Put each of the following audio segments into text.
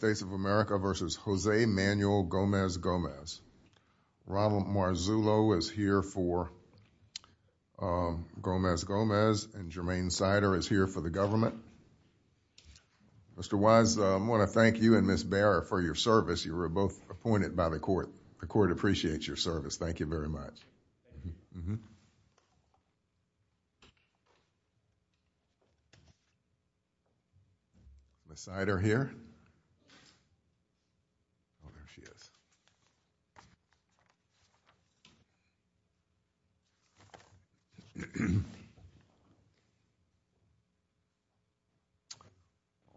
Robin Marzullo is here for Gomez-Gomez and Jermaine Sider is here for the government. Mr. Wise, I want to thank you and Ms. Baer for your service. You were both appointed by the court. The court appreciates your service. Thank you very much.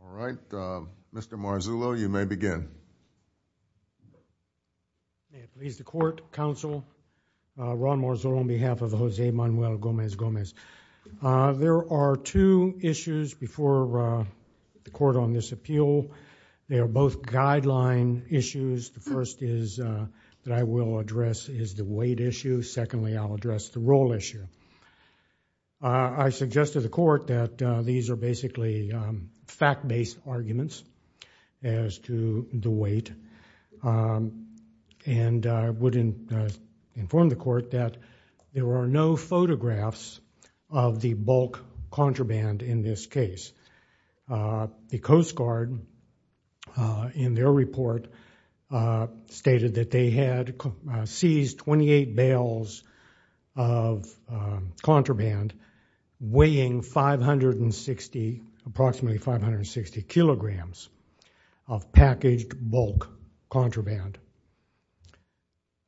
All right, Mr. Marzullo, you may begin. May it please the court, counsel, Ron Marzullo on behalf of Jose Manuel Gomez-Gomez. There are two issues before the court on this appeal. They are both guideline issues. The first is that I will address is the weight issue. Secondly, I'll address the role issue. I suggest to the court that these are basically fact-based arguments as to the weight and I would inform the court that there are no photographs of the bulk contraband in this case. The Coast Guard, in their report, stated that they had seized 28 bales of contraband weighing approximately 560 kilograms of packaged bulk contraband.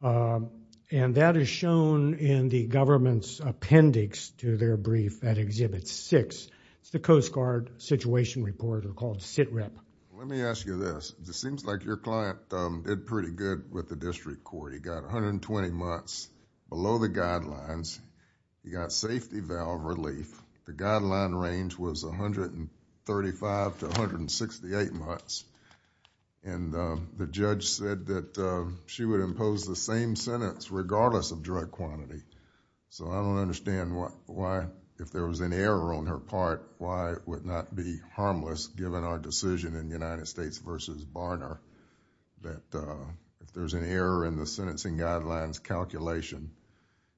That is shown in the government's appendix to their brief at Exhibit 6. It's the Coast Guard Situation Report or called SITREP. Let me ask you this. It seems like your client did pretty good with the district court. He got 120 months below the guidelines. He got safety valve relief. The guideline range was 135 to 168 months and the judge said that she would impose the same sentence regardless of drug quantity. I don't understand why, if there was an error on her part, why it would not be harmless given our decision in United States v. Barner that if there's an error in the sentencing guidelines calculation,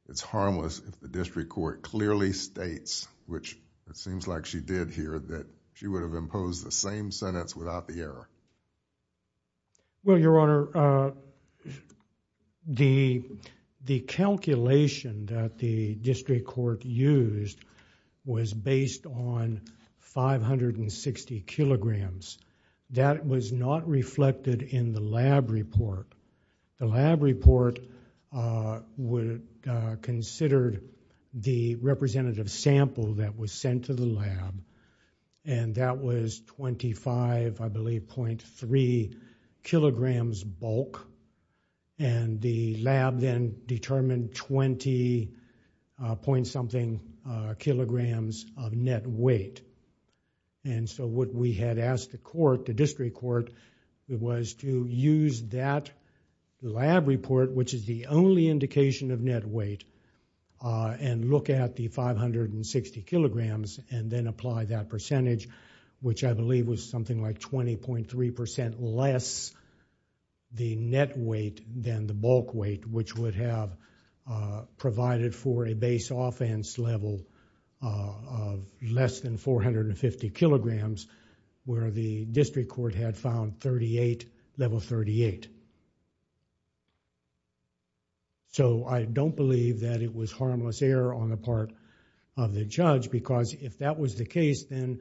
it's harmless if the district court clearly states, which it seems like she did here, that she would have imposed the same sentence without the error. Your Honor, the calculation that the district court used was based on 560 kilograms. That was not reflected in the lab report. The lab report considered the representative sample that was sent to the lab and that was 25, I believe, .3 kilograms bulk. The lab then determined 20 point something kilograms of net weight. What we had asked the court, the district court, was to use that lab report, which is the only indication of net weight, and look at the 560 kilograms and then apply that percentage, which I believe was something like 20.3% less the net weight than the bulk weight, which would have provided for a base offense level of less than 450 kilograms where the district court had found level 38. I don't believe that it was harmless error on the part of the judge because if that was the case, then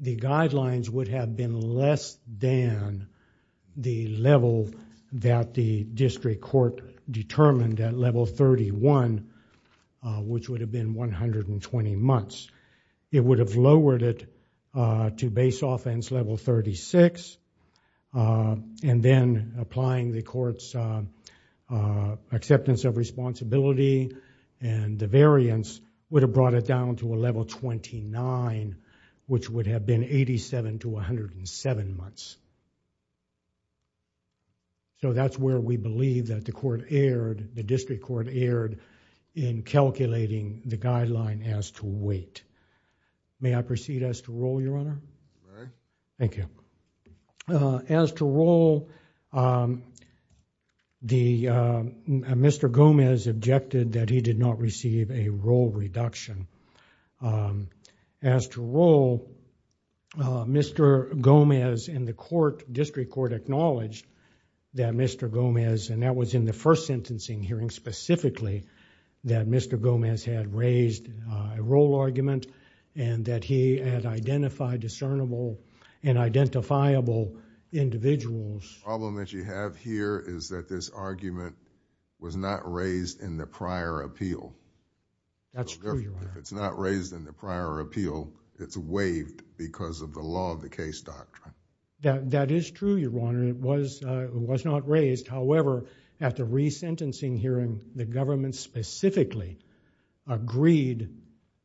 the guidelines would have been less than the level that the district court determined at level 31, which would have been 120 months. It would have lowered it to base offense level 36 and then applying the court's acceptance of responsibility and the variance would have brought it down to a level 29, which would have been 87 to 107 months. That's where we believe that the court erred, the district court erred in calculating the guideline as to weight. May I proceed as to roll, Your Honor? Very. Thank you. As to roll, Mr. Gomez objected that he did not receive a roll reduction. As to roll, Mr. Gomez and the district court acknowledged that Mr. Gomez, and that was in the first sentencing hearing specifically, that Mr. Gomez had raised a roll argument and that he had identified discernible and identifiable individuals. The problem that you have here is that this argument was not raised in the prior appeal. That's true, Your Honor. It's not raised in the prior appeal. It's waived because of the law of the case doctrine. That is true, Your Honor. It was not raised. However, at the resentencing hearing, the government specifically agreed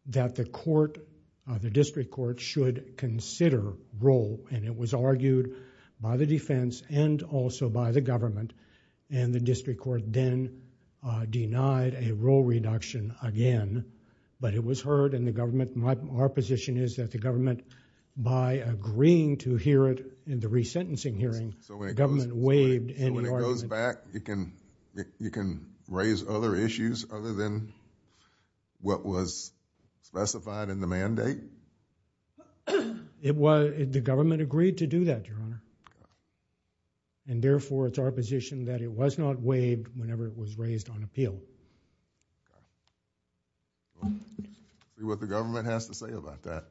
that the district court should consider roll and it was argued by the defense and also by the government. The district court then denied a roll reduction again, but it was heard and our position is that the government, by agreeing to hear it in the resentencing hearing, the government waived any argument. When it goes back, you can raise other issues other than what was specified in the mandate? The government agreed to do that, Your Honor, and therefore, it's our position that it was not waived whenever it was raised on appeal. See what the government has to say about that.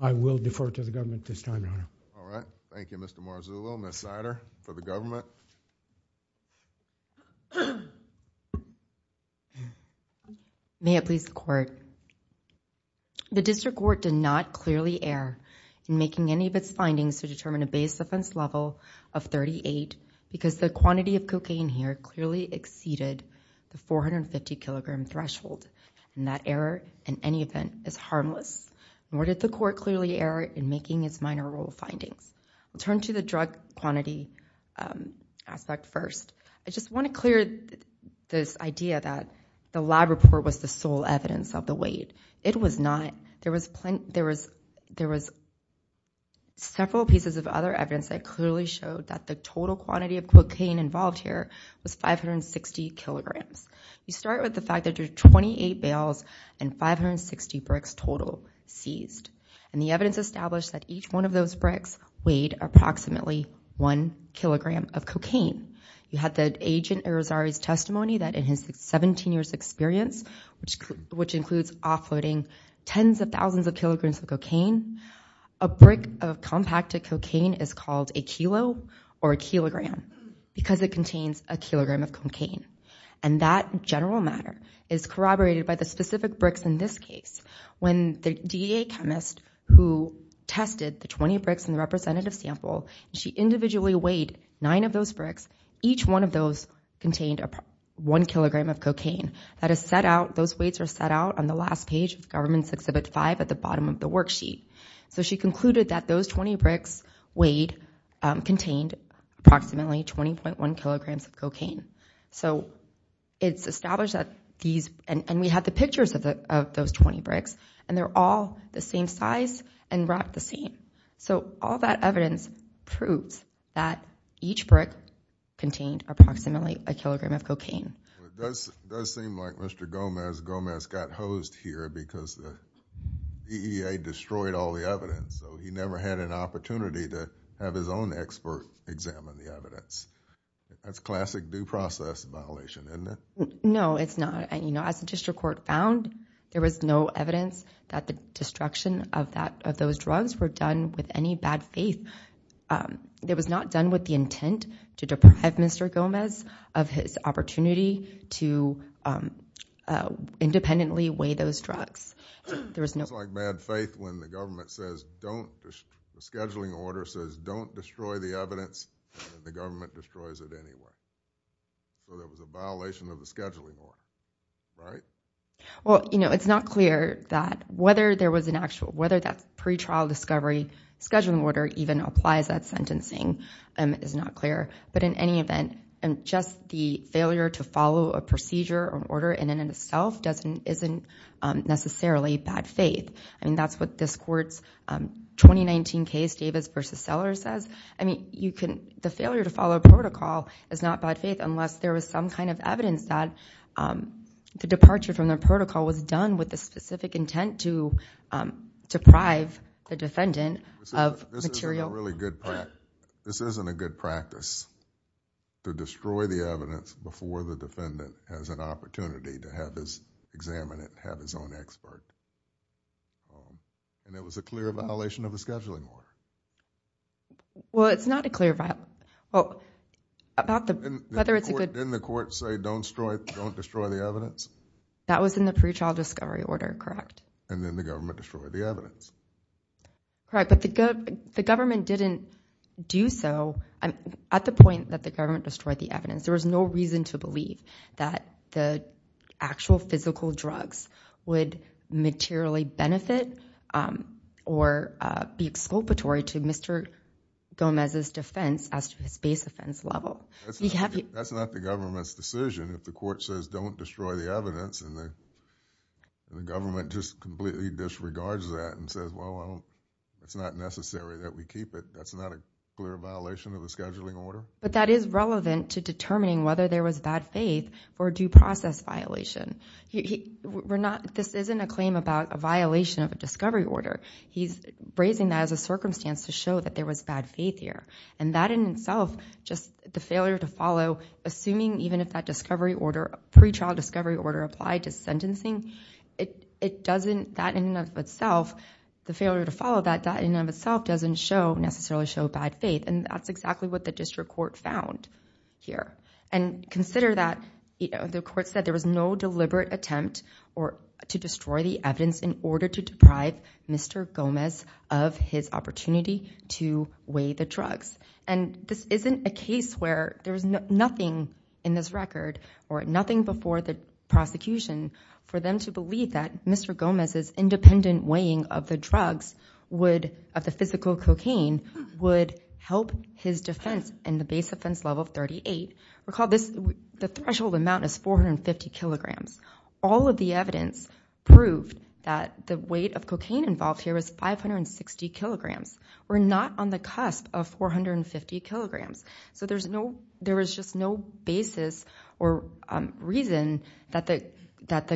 All right. Thank you, Mr. Marzullo. Ms. Sider, for the government. May it please the court. The district court did not clearly err in making any of its findings to determine a base offense level of 38 because the quantity of cocaine here clearly exceeded the 450 kilogram threshold and that error, in any event, is harmless, nor did the court clearly err in making its minor rule findings. We'll turn to the drug quantity aspect first. I just want to clear this idea that the lab report was the sole evidence of the weight. It was not. There was several pieces of other evidence that clearly showed that the total quantity of cocaine involved here was 560 kilograms. You start with the fact that there's 28 bails and 560 bricks total seized and the evidence established that each one of those bricks weighed approximately one kilogram of cocaine. You had the agent Erosari's testimony that in his 17 years experience, which includes offloading tens of thousands of kilograms of cocaine, a brick of compacted cocaine is called a kilo or a kilogram because it contains a kilogram of cocaine. That general matter is corroborated by the specific bricks in this case. When the DEA chemist who tested the 20 bricks in the representative sample, she individually weighed nine of those bricks. Each one of those contained one kilogram of cocaine. Those weights are set out on the last page of government's exhibit five at the bottom of the worksheet. She concluded that those 20 bricks weighed, contained approximately 20.1 kilograms of cocaine. It's established that these, and we have the pictures of those 20 bricks, and they're all the same size and wrapped the same. All that evidence proves that each brick contained approximately a kilogram of cocaine. It does seem like Mr. Gomez got hosed here because the DEA destroyed all the evidence. He never had an opportunity to have his own expert examine the evidence. That's classic due process violation, isn't it? No, it's not. As the district court found, there was no evidence that the destruction of those drugs were done with any bad faith. It was not done with the intent to deprive Mr. Gomez of his opportunity to independently weigh those drugs. There was no... It's like bad faith when the government says don't, the scheduling order says don't destroy the evidence, and the government destroys it anyway. There was a violation of the scheduling order, right? It's not clear that whether there was an actual, whether that pre-trial discovery scheduling order even applies at sentencing is not clear, but in any event, just the failure to follow a procedure or order in and of itself isn't necessarily bad faith. That's what this court's 2019 case, Davis v. Seller, says. The failure to follow a protocol is not bad faith unless there was some kind of evidence that the departure from the protocol was done with the specific intent to deprive the defendant of material... This isn't a really good practice. This isn't a good practice to destroy the evidence before the defendant has an And it was a clear violation of the scheduling order. Well, it's not a clear violation, well, about whether it's a good... Didn't the court say don't destroy the evidence? That was in the pre-trial discovery order, correct? And then the government destroyed the evidence. Correct, but the government didn't do so at the point that the government destroyed the evidence. There was no reason to believe that the actual physical drugs would materially benefit or be exculpatory to Mr. Gomez's defense as to his base offense level. That's not the government's decision. If the court says don't destroy the evidence and the government just completely disregards that and says, well, it's not necessary that we keep it, that's not a clear violation of the scheduling order? But that is relevant to determining whether there was bad faith or due process violation. This isn't a claim about a violation of a discovery order. He's raising that as a circumstance to show that there was bad faith here. And that in itself, just the failure to follow, assuming even if that discovery order, pre-trial discovery order applied to sentencing, it doesn't, that in and of itself, the failure to follow that, that in and of itself doesn't necessarily show bad faith. And that's exactly what the district court found here. And consider that the court said there was no deliberate attempt to destroy the evidence in order to deprive Mr. Gomez of his opportunity to weigh the drugs. And this isn't a case where there's nothing in this record or nothing before the prosecution for them to believe that Mr. Gomez's independent weighing of the drugs, of the physical cocaine, would help his defense in the base offense level 38. Recall this, the threshold amount is 450 kilograms. All of the evidence proved that the weight of cocaine involved here was 560 kilograms. We're not on the cusp of 450 kilograms. So there's no, there was just no basis or reason that the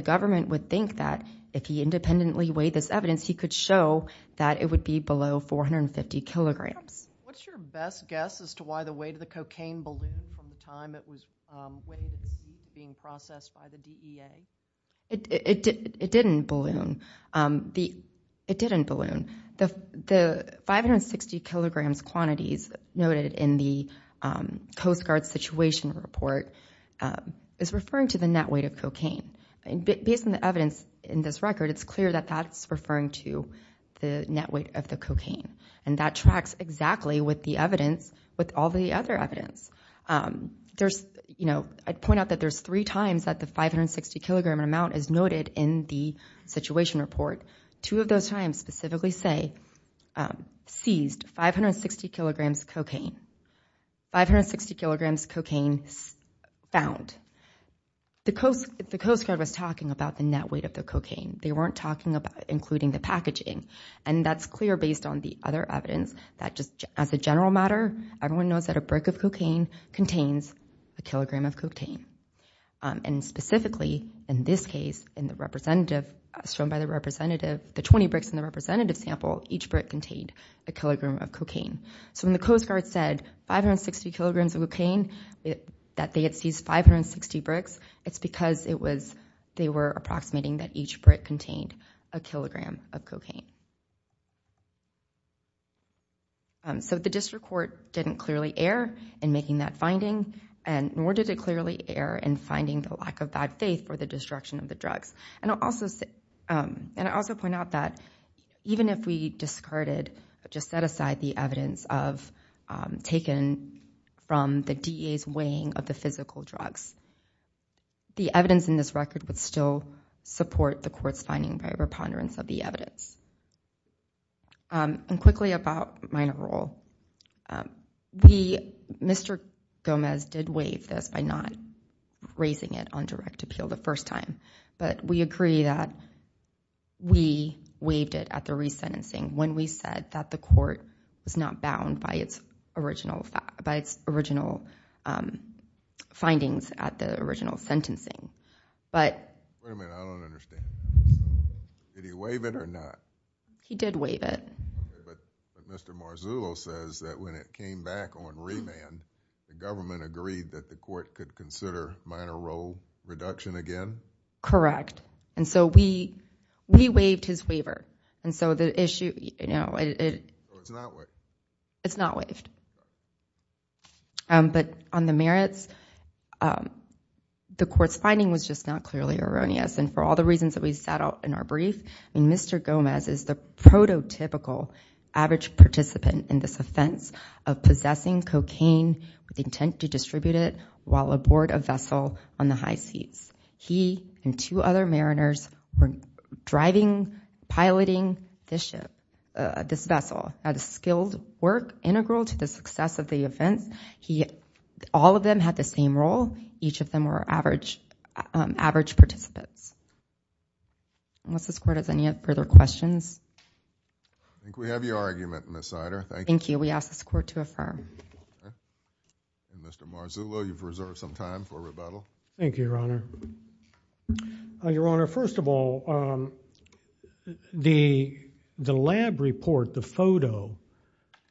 government would think that if he independently weighed this evidence, he could show that it would be below 450 kilograms. What's your best guess as to why the weight of the cocaine ballooned from the time it was weighed and being processed by the DEA? It didn't balloon. It didn't balloon. The 560 kilograms quantities noted in the Coast Guard situation report is referring to the net weight of cocaine. Based on the evidence in this record, it's clear that that's referring to the net weight of the cocaine. And that tracks exactly with the evidence, with all the other evidence. There's, you know, I'd point out that there's three times that the 560 kilogram amount is noted in the situation report. Two of those times specifically say, seized 560 kilograms cocaine, 560 kilograms cocaine found. The Coast Guard was talking about the net weight of the cocaine. They weren't talking about including the packaging. And that's clear based on the other evidence that just as a general matter, everyone knows that a brick of cocaine contains a kilogram of cocaine. And specifically in this case, in the representative, shown by the representative, the 20 bricks in the representative sample, each brick contained a kilogram of cocaine. So when the Coast Guard said 560 kilograms of cocaine, that they had seized 560 bricks, it's because it was, they were approximating that each brick contained a kilogram of cocaine. So the district court didn't clearly err in making that finding, and nor did it clearly err in finding the lack of bad faith for the destruction of the drugs. And I'll also say, and I'll also point out that even if we discarded, just set aside the evidence of, taken from the DA's weighing of the physical drugs, the evidence in this record would still support the court's finding by a preponderance of the evidence. And quickly about minor role, the, Mr. Gomez did waive this by not raising it on direct appeal the first time, but we agree that we waived it at the resentencing when we said that the court was not bound by its original, by its original findings at the original sentencing. But... Wait a minute, I don't understand. Did he waive it or not? He did waive it. But Mr. Marzullo says that when it came back on remand, the government agreed that the Correct. And so we, we waived his waiver. And so the issue, you know, it's not waived. But on the merits, the court's finding was just not clearly erroneous. And for all the reasons that we set out in our brief, I mean, Mr. Gomez is the prototypical average participant in this offense of possessing cocaine with the intent to distribute it while aboard a vessel on the high seas. He and two other mariners were driving, piloting this ship, this vessel at a skilled work integral to the success of the offense. He, all of them had the same role. Each of them were average, average participants. Unless this court has any further questions. I think we have your argument, Ms. Sider. Thank you. Thank you. We ask this court to affirm. Mr. Marzullo, you've reserved some time for rebuttal. Thank you, Your Honor. Your Honor, first of all, the, the lab report, the photo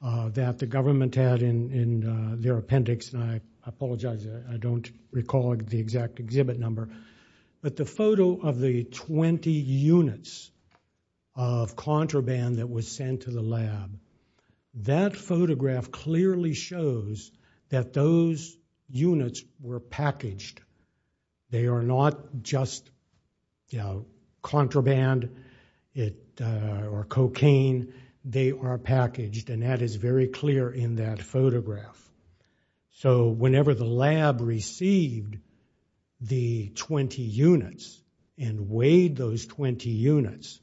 that the government had in, in their appendix, and I apologize, I don't recall the exact exhibit number, but the photo of the 20 units of contraband that was sent to the lab, that photograph clearly shows that those units were packaged. They are not just, you know, contraband, it, or cocaine. They are packaged, and that is very clear in that photograph. So whenever the lab received the 20 units and weighed those 20 units,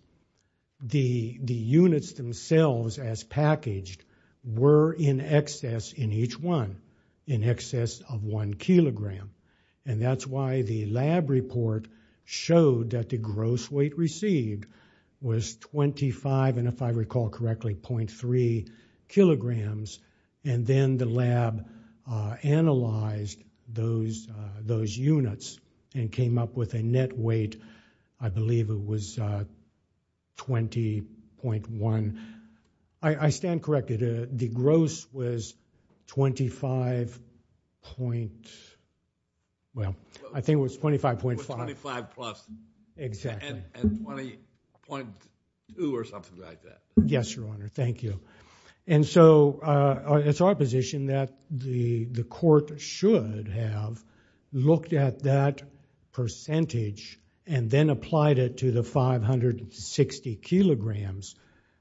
the, the units themselves as packaged were in excess in each one, in excess of one kilogram. And that's why the lab report showed that the gross weight received was 25, and if I recall, the lab analyzed those, those units and came up with a net weight, I believe it was 20.1, I, I stand corrected, the gross was 25 point, well, I think it was 25.5. 25 plus. Exactly. And, and 20.2 or something like that. Yes, Your Honor, thank you. And so, it's our position that the, the court should have looked at that percentage and then applied it to the 560 kilograms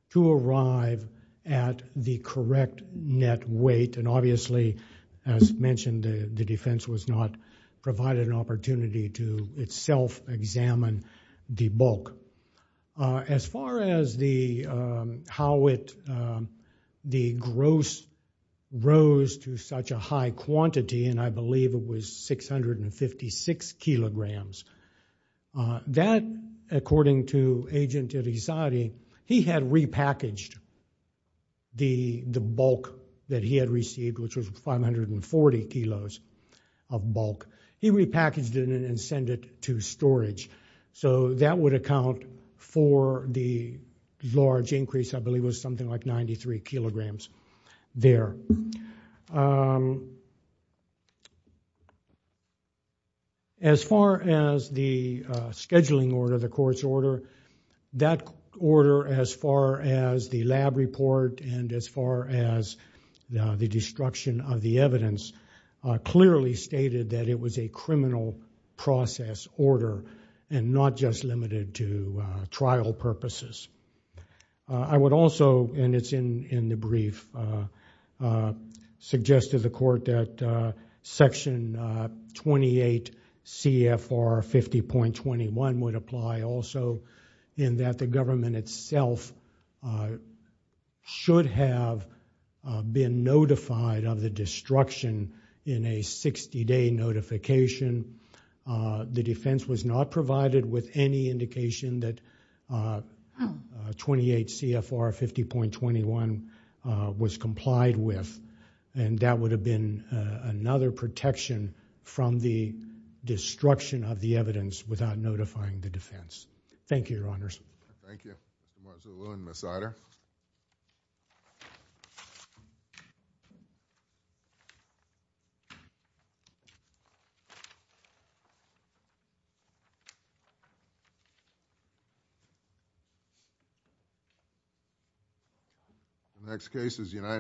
to arrive at the correct net weight, and obviously, as mentioned, the defense was not provided an opportunity to itself examine the bulk. As far as the, how it, the gross rose to such a high quantity, and I believe it was 656 kilograms, that, according to Agent Irizarry, he had repackaged the, the bulk that he had received, which was 540 kilos of bulk. He repackaged it and sent it to storage. So that would account for the large increase, I believe it was something like 93 kilograms there. As far as the scheduling order, the court's order, that order, as far as the lab report and as far as the destruction of the evidence, clearly stated that it was a criminal process order and not just limited to trial purposes. I would also, and it's in, in the brief, suggest to the court that Section 28 CFR 50.21 would should have been notified of the destruction in a 60-day notification. The defense was not provided with any indication that 28 CFR 50.21 was complied with, and that would have been another protection from the destruction of the evidence without notifying Thank you, Your Honors. Thank you. Marcia Lewin, Ms. Sider.